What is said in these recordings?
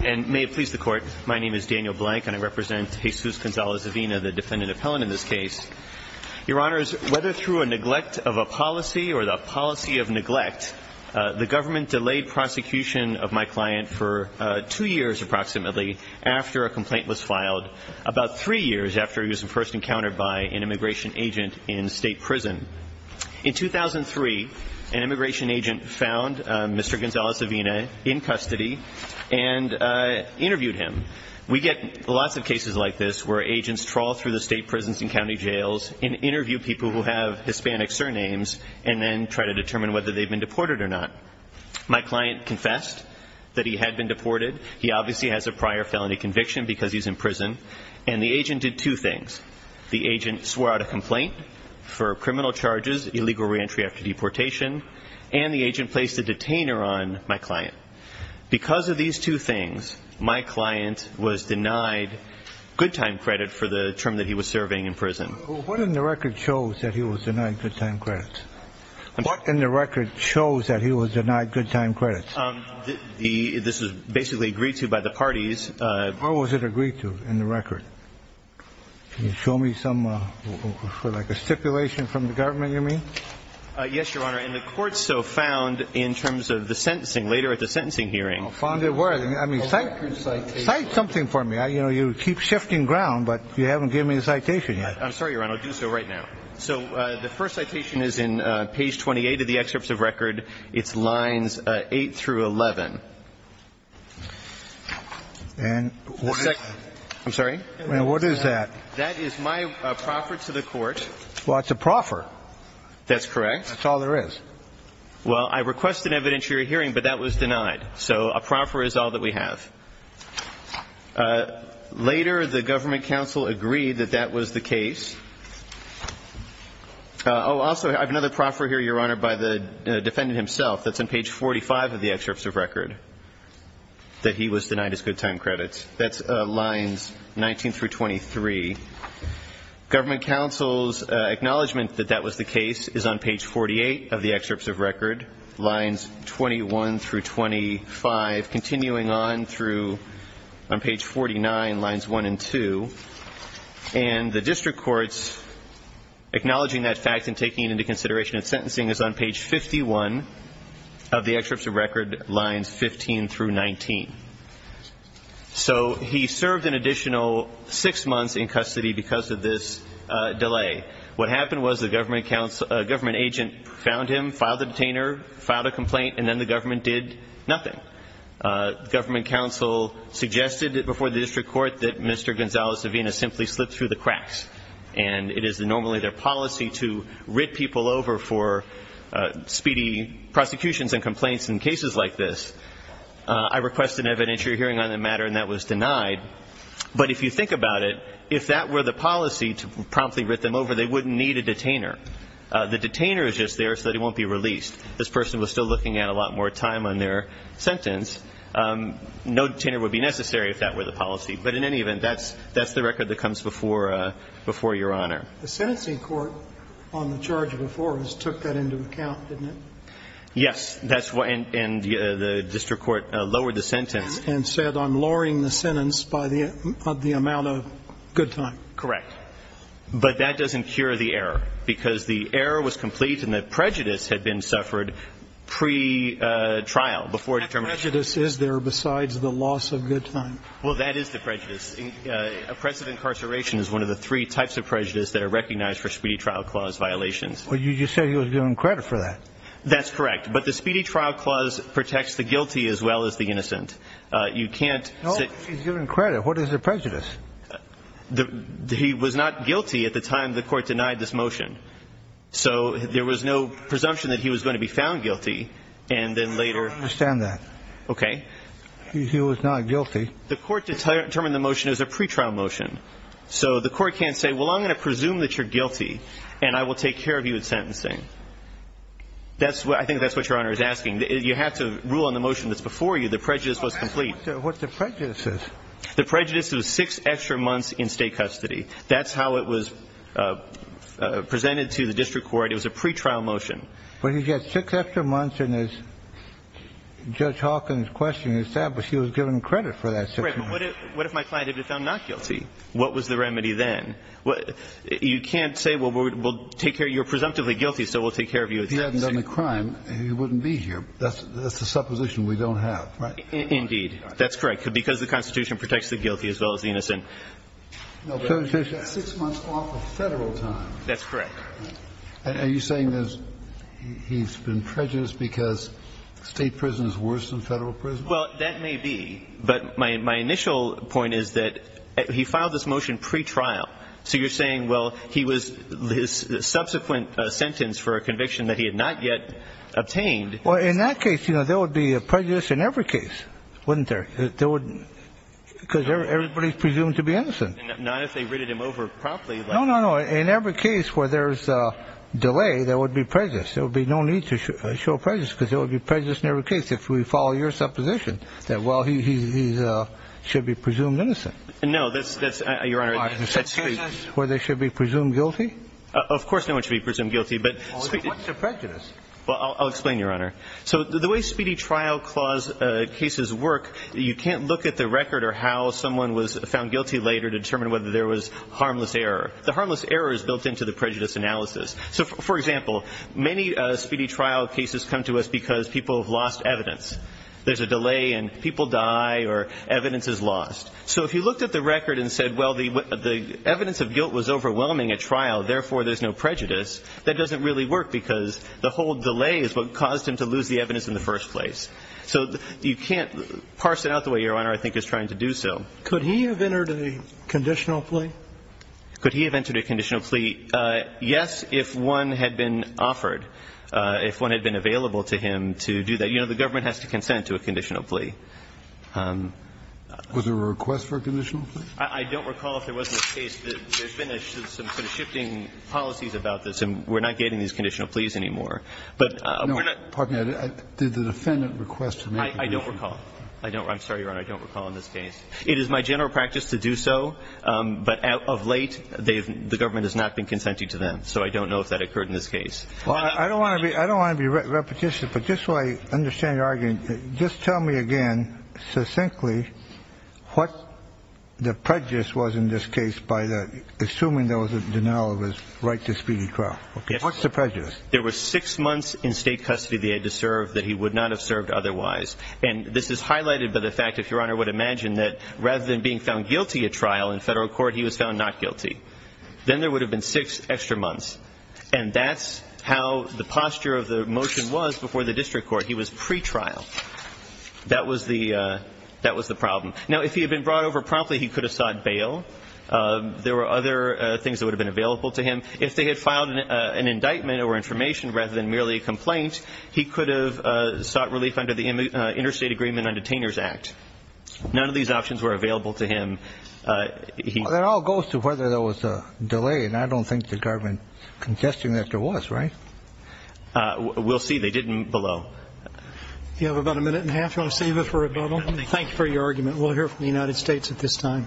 May it please the Court, my name is Daniel Blank and I represent Jesus Gonzalez-Avina, the defendant appellant in this case. Your Honors, whether through a neglect of a policy or the policy of neglect, the government delayed prosecution of my client for two years approximately after a complaint was filed, about three years after he was first encountered by an immigration agent in state prison. In 2003, an immigration agent found Mr. Gonzalez-Avina in custody and interviewed him. We get lots of cases like this where agents trawl through the state prisons and county jails and interview people who have Hispanic surnames and then try to determine whether they've been deported or not. My client confessed that he had been deported. He obviously has a prior felony conviction because he's in prison. And the complaint for criminal charges, illegal reentry after deportation, and the agent placed a detainer on my client. Because of these two things, my client was denied good time credit for the term that he was serving in prison. What in the record shows that he was denied good time credits? What in the record shows that he was denied good time credits? This was basically agreed to by the parties. What was it agreed to in the record? Can you show me some, like a stipulation from the government, you mean? Yes, Your Honor. And the court so found in terms of the sentencing later at the sentencing hearing. Found it where? I mean, cite something for me. You keep shifting ground, but you haven't given me the citation yet. I'm sorry, Your Honor. I'll do so right now. So the first citation is in page 28 of the excerpts of record. It's lines 8 through 11. And what is that? I'm sorry? And what is that? That is my proffer to the court. Well, it's a proffer. That's correct. That's all there is. Well, I requested an evidentiary hearing, but that was denied. So a proffer is all that we have. Later, the government counsel agreed that that was the case. Oh, also, I have another proffer here, Your Honor, by the defendant himself. That's on page 45 of the excerpts of record. That he was denied his good time credits. That's lines 19 through 23. Government counsel's acknowledgment that that was the case is on page 48 of the excerpts of record, lines 21 through 25, continuing on through on page 49, lines 1 and 2. And the district court's acknowledging that fact and taking it into consideration at sentencing is on page 51 of the excerpts of record, lines 15 through 19. So, he served an additional six months in custody because of this delay. What happened was the government agent found him, filed the detainer, filed a complaint, and then the government did nothing. Government counsel suggested before the district court that Mr. Gonzales-Savinas simply slipped through the cracks. And it is normally their policy to be prosecutions and complaints in cases like this. I request an evidentiary hearing on the matter, and that was denied. But if you think about it, if that were the policy to promptly rip them over, they wouldn't need a detainer. The detainer is just there so that he won't be released. This person was still looking at a lot more time on their sentence. No detainer would be necessary if that were the policy. But in any event, that's the record that comes before Your Honor. The sentencing court on the charge before us took that into account, didn't it? Yes. And the district court lowered the sentence. And said, I'm lowering the sentence by the amount of good time. Correct. But that doesn't cure the error, because the error was complete and the prejudice had been suffered pretrial, before determination. What prejudice is there besides the loss of good time? Well, that is the prejudice. Oppressive incarceration is one of the three types of prejudice that are recognized for Speedy Trial Clause violations. But you said he was given credit for that. That's correct. But the Speedy Trial Clause protects the guilty as well as the innocent. You can't say... No, he's given credit. What is the prejudice? He was not guilty at the time the court denied this motion. So there was no presumption that he was going to be found guilty. And then later... I don't understand that. Okay. He was not guilty. The court determined the motion is a pretrial motion. So the court can't say, well, I'm going to presume that you're guilty, and I will take care of you in sentencing. I think that's what Your Honor is asking. You have to rule on the motion that's before you. The prejudice was complete. What's the prejudice? The prejudice is six extra months in state custody. That's how it was presented to the district court. It was a pretrial motion. But he's got six extra months, and as Judge Hawkins' question established, he was given credit for that six months. That's correct. But what if my client had been found not guilty? What was the remedy then? You can't say, well, you're presumptively guilty, so we'll take care of you in sentencing. If he hadn't done the crime, he wouldn't be here. That's the supposition we don't have, right? Indeed. That's correct. Because the Constitution protects the guilty as well as the innocent. No, but there's six months off of federal time. That's correct. Are you saying he's been prejudiced because state prison is worse than federal prison? Well, that may be, but my initial point is that he filed this motion pretrial. So you're saying, well, his subsequent sentence for a conviction that he had not yet obtained Well, in that case, there would be a prejudice in every case, wouldn't there? Because everybody's presumed to be innocent. Not if they ridded him over properly. No, no, no. In every case where there's a delay, there would be prejudice. There would be no need to show prejudice because there would be prejudice in every case. If we follow your supposition that, well, he should be presumed innocent. No, Your Honor, that's true. Where they should be presumed guilty? Of course no one should be presumed guilty. What's a prejudice? Well, I'll explain, Your Honor. So the way speedy trial clause cases work, you can't look at the record or how someone was found guilty later to determine whether there was harmless error. The harmless error is built into the prejudice analysis. So, for example, many speedy trial cases come to us because people have lost evidence. There's a delay and people die or evidence is lost. So if you looked at the record and said, well, the evidence of guilt was overwhelming at trial. Therefore, there's no prejudice. That doesn't really work because the whole delay is what caused him to lose the evidence in the first place. So you can't parse it out the way Your Honor, I think, is trying to do so. Could he have entered a conditional plea? Could he have entered a conditional plea? Yes, if one had been offered, if one had been available to him to do that. You know, the government has to consent to a conditional plea. Was there a request for a conditional plea? I don't recall if there was in this case. There's been some sort of shifting policies about this. And we're not getting these conditional pleas anymore. But we're not. No, pardon me. Did the defendant request to make a conditional plea? I don't recall. I'm sorry, Your Honor. I don't recall in this case. It is my general practice to do so. But of late, the government has not been consenting to them. So I don't know if that occurred in this case. Well, I don't want to be repetitious, but just so I understand your argument, just tell me again, succinctly, what the prejudice was in this case by the, assuming there was a denial of his right to speedy trial. What's the prejudice? There were six months in state custody that he had to serve that he would not have served otherwise. And this is highlighted by the fact, if Your Honor would imagine, that rather than being found guilty at trial in federal court, he was found not guilty. Then there would have been six extra months. And that's how the posture of the motion was before the district court. He was pretrial. That was the problem. Now, if he had been brought over promptly, he could have sought bail. There were other things that would have been available to him. If they had filed an indictment or information rather than merely a complaint, he could have sought relief under the Interstate Agreement Undetainers Act. None of these options were available to him. It all goes to whether there was a delay, and I don't think the government is contesting that there was, right? We'll see. They didn't below. You have about a minute and a half. Do you want to save it for a bubble? Thank you for your argument. We'll hear from the United States at this time.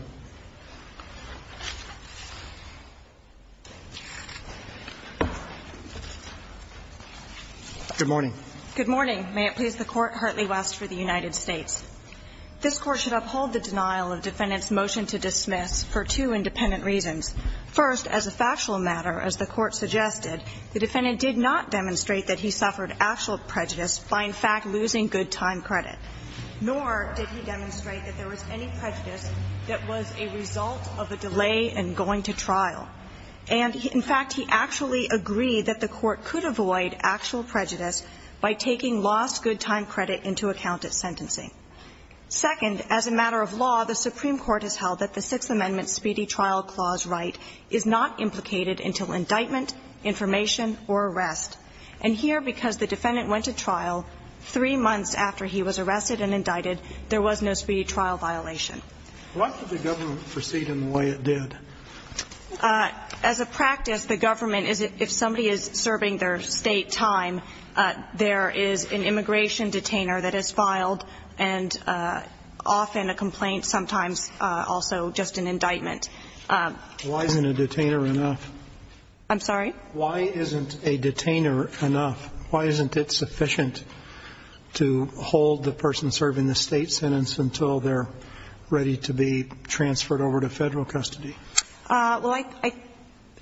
Good morning. Good morning. May it please the Court, Hartley West for the United States. This Court should uphold the denial of defendant's motion to dismiss for two independent reasons. First, as a factual matter, as the Court suggested, the defendant did not demonstrate that he suffered actual prejudice by, in fact, losing good time credit. Nor did he demonstrate that there was any prejudice that was a result of a delay in going to trial. And, in fact, he actually agreed that the Court could avoid actual prejudice by taking lost good time credit into account at sentencing. Second, as a matter of law, the Supreme Court has held that the Sixth Amendment Speedy Trial Clause right is not implicated until indictment, information, or arrest. And here, because the defendant went to trial three months after he was arrested and indicted, there was no speedy trial violation. Why should the government proceed in the way it did? As a practice, the government, if somebody is serving their state time, there is an immigration detainer that is filed and often a complaint, sometimes also just an indictment. Why isn't a detainer enough? I'm sorry? Why isn't a detainer enough? Why isn't it sufficient to hold the person serving the state sentence until they're ready to be transferred over to federal custody? Well,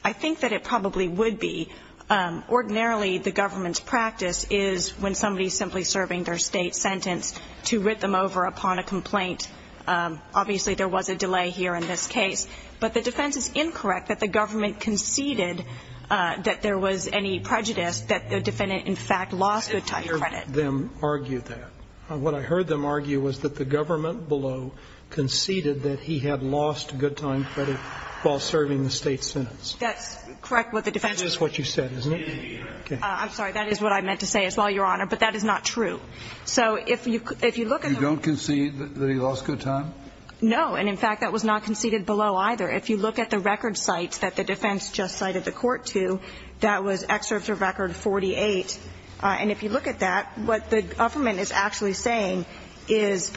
I think that it probably would be. Ordinarily, the government's practice is when somebody is simply serving their state sentence to writ them over upon a complaint. Obviously, there was a delay here in this case. But the defense is incorrect that the government conceded that there was any prejudice that the defendant, in fact, lost good time credit. I didn't hear them argue that. What I heard them argue was that the government below conceded that he had lost good time credit while serving the state sentence. That's correct. That's what you said, isn't it? I'm sorry. That is what I meant to say as well, Your Honor. But that is not true. You don't concede that he lost good time? No. And, in fact, that was not conceded below either. If you look at the record cites that the defense just cited the court to, that was Excerptor Record 48. And if you look at that, what the government is actually saying is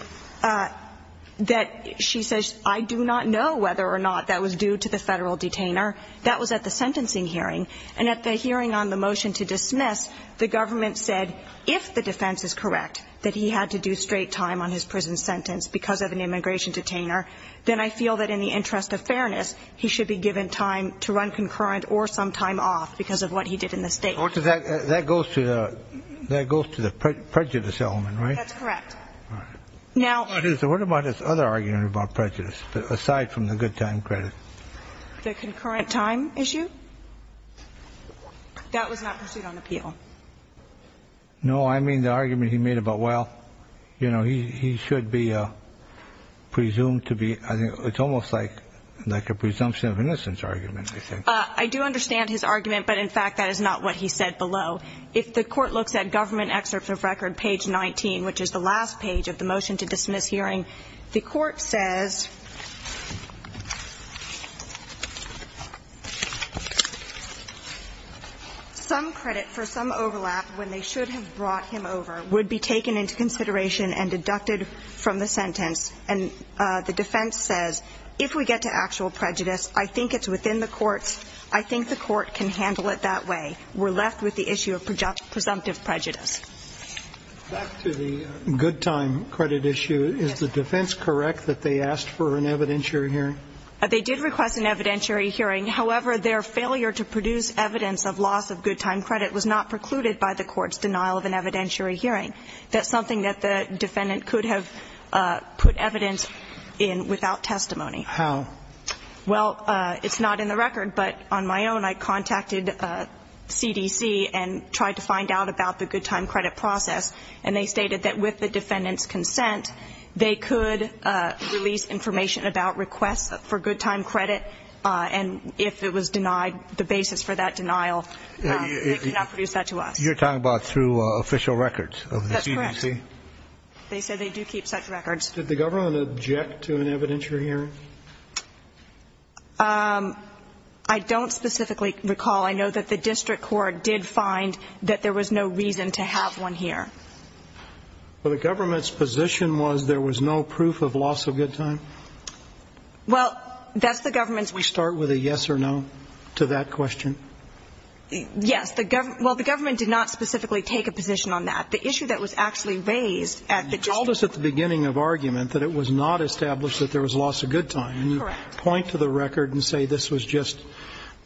that she says, I do not know whether or not that was due to the federal detainer. That was at the sentencing hearing. And at the hearing on the motion to dismiss, the government said if the defense is correct that he had to do straight time on his prison sentence because of an immigration detainer, then I feel that in the interest of fairness, he should be given time to run concurrent or some time off because of what he did in the state. That goes to the prejudice element, right? That's correct. All right. What about his other argument about prejudice, aside from the good time credit? The concurrent time issue? That was not pursued on appeal. No, I mean the argument he made about, well, you know, he should be presumed to be, I think it's almost like a presumption of innocence argument, I think. I do understand his argument, but, in fact, that is not what he said below. If the court looks at Government Excerptor Record page 19, which is the last page of the motion to dismiss hearing, the court says, some credit for some overlap when they should have brought him over would be taken into consideration and deducted from the sentence. And the defense says, if we get to actual prejudice, I think it's within the court's, I think the court can handle it that way. We're left with the issue of presumptive prejudice. Back to the good time credit issue. Is the defense correct that they asked for an evidentiary hearing? They did request an evidentiary hearing. However, their failure to produce evidence of loss of good time credit was not precluded by the court's denial of an evidentiary hearing. That's something that the defendant could have put evidence in without testimony. How? Well, it's not in the record, but on my own, I contacted CDC and tried to find out about the good time credit process. And they stated that with the defendant's consent, they could release information about requests for good time credit. And if it was denied, the basis for that denial, they could not produce that to us. You're talking about through official records of the CDC? That's correct. They said they do keep such records. Did the government object to an evidentiary hearing? I don't specifically recall. I know that the district court did find that there was no reason to have one here. But the government's position was there was no proof of loss of good time? Well, that's the government's... We start with a yes or no to that question? Yes. Well, the government did not specifically take a position on that. The issue that was actually raised at the district... You told us at the beginning of argument that it was not established that there was loss of good time. Correct. And you point to the record and say this was just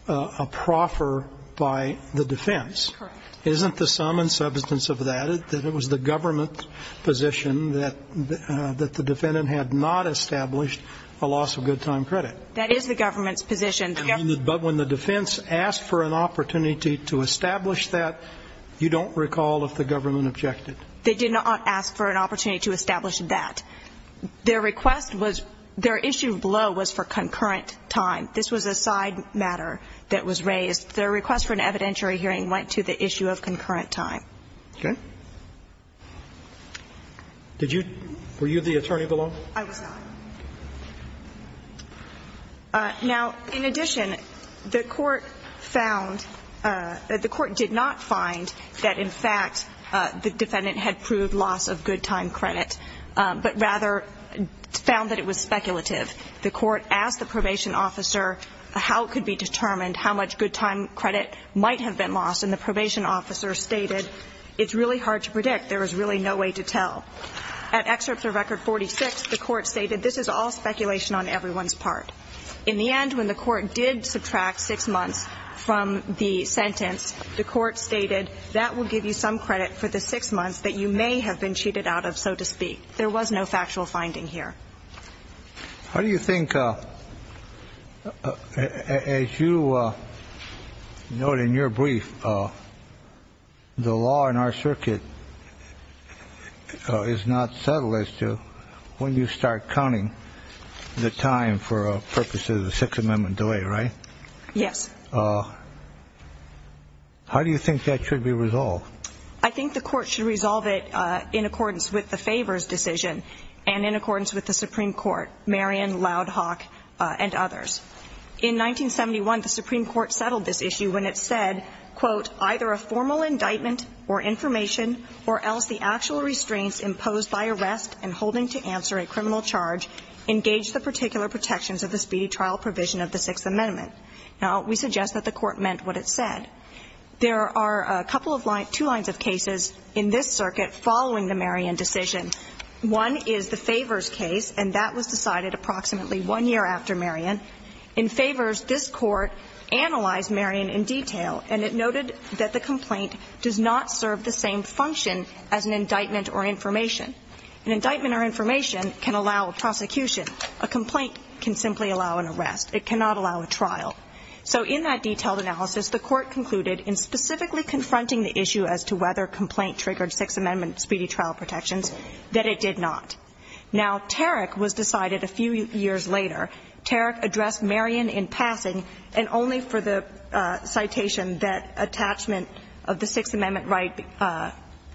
a proffer by the defense. Correct. Isn't the sum and substance of that that it was the government's position that the defendant had not established a loss of good time credit? That is the government's position. But when the defense asked for an opportunity to establish that, you don't recall if the government objected? They did not ask for an opportunity to establish that. Their request was... Their issue below was for concurrent time. This was a side matter that was raised. Their request for an evidentiary hearing went to the issue of concurrent time. Okay. Did you... Were you the attorney below? I was not. Now, in addition, the court found... The court did not find that, in fact, the defendant had proved loss of good time credit, The court asked the probation officer how it could be determined how much good time credit might have been lost, and the probation officer stated, It's really hard to predict. There is really no way to tell. At excerpt of Record 46, the court stated, This is all speculation on everyone's part. In the end, when the court did subtract six months from the sentence, the court stated, That will give you some credit for the six months that you may have been cheated out of, so to speak. There was no factual finding here. How do you think... As you note in your brief, the law in our circuit is not settled as to when you start counting the time for purposes of the Sixth Amendment delay, right? Yes. How do you think that should be resolved? I think the court should resolve it in accordance with the favors decision and in accordance with the Supreme Court, Marion, Loud Hawk, and others. In 1971, the Supreme Court settled this issue when it said, Quote, Either a formal indictment or information or else the actual restraints imposed by arrest and holding to answer a criminal charge engage the particular protections of the speedy trial provision of the Sixth Amendment. Now, we suggest that the court meant what it said. There are a couple of lines, two lines of cases in this circuit following the Marion decision. One is the favors case, and that was decided approximately one year after Marion. In favors, this court analyzed Marion in detail and it noted that the complaint does not serve the same function as an indictment or information. An indictment or information can allow a prosecution. A complaint can simply allow an arrest. It cannot allow a trial. So in that detailed analysis, the court concluded in specifically confronting the issue as to whether a complaint triggered Sixth Amendment speedy trial protections that it did not. Now, Tarrick was decided a few years later. Tarrick addressed Marion in passing and only for the citation that attachment of the Sixth Amendment right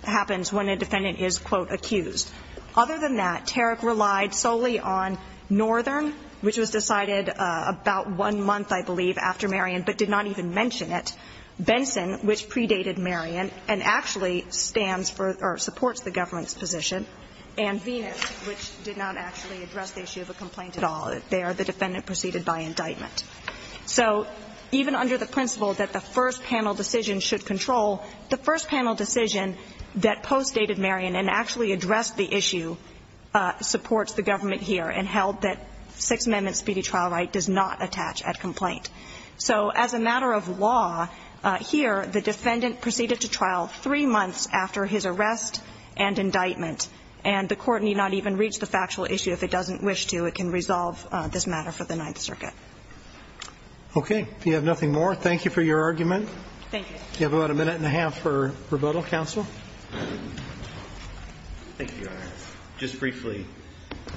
happens when a defendant is, quote, accused. Other than that, Tarrick relied solely on Northern, which was decided about one month, I believe, after Marion, but did not even mention it. Benson, which predated Marion and actually stands for or supports the government's position. And Venus, which did not actually address the issue of a complaint at all. There, the defendant proceeded by indictment. So even under the principle that the first panel decision should control, the first panel decision that postdated Marion and actually addressed the issue supports the government here and held that Sixth Amendment speedy trial right does not attach at complaint. So as a matter of law, here, the defendant proceeded to trial three months after his arrest and indictment. And the court need not even reach the factual issue if it doesn't wish to. It can resolve this matter for the Ninth Circuit. Okay. If you have nothing more, thank you for your argument. Thank you. You have about a minute and a half for rebuttal, counsel. Thank you, Your Honor. Just briefly,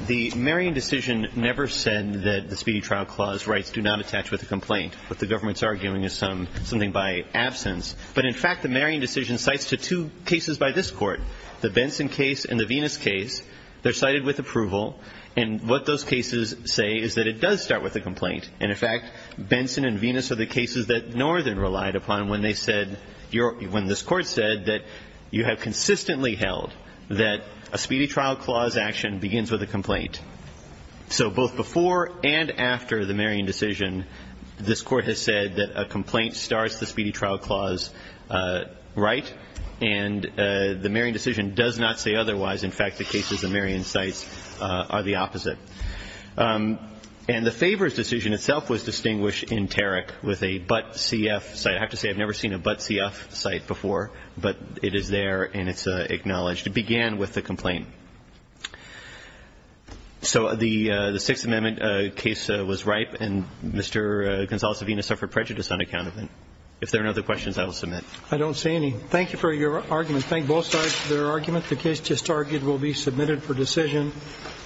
the Marion decision never said that the Speedy Trial Clause rights do not attach with a complaint. What the government's arguing is something by absence. But in fact, the Marion decision cites to two cases by this court. The Benson case and the Venus case. They're cited with approval. And what those cases say is that it does start with a complaint. And in fact, Benson and Venus are the cases that Northern relied upon when they said, when this court said that you have consistently held that a Speedy Trial Clause action begins with a complaint. So both before and after the Marion decision, this court has said that a complaint starts the Speedy Trial Clause right and the Marion decision does not say otherwise. In fact, the cases that Marion cites are the opposite. And the favors decision itself was distinguished in Tarrick with a but C.F. cite. I have to say, I've never seen a but C.F. cite before. But it is there and it's acknowledged. It began with a complaint. So the Sixth Amendment case was ripe and Mr. Gonzales-Savina suffered prejudice on account of it. If there are no other questions, I will submit. I don't see any. Thank you for your argument. Thank both sides for their argument. The case just argued will be submitted for decision.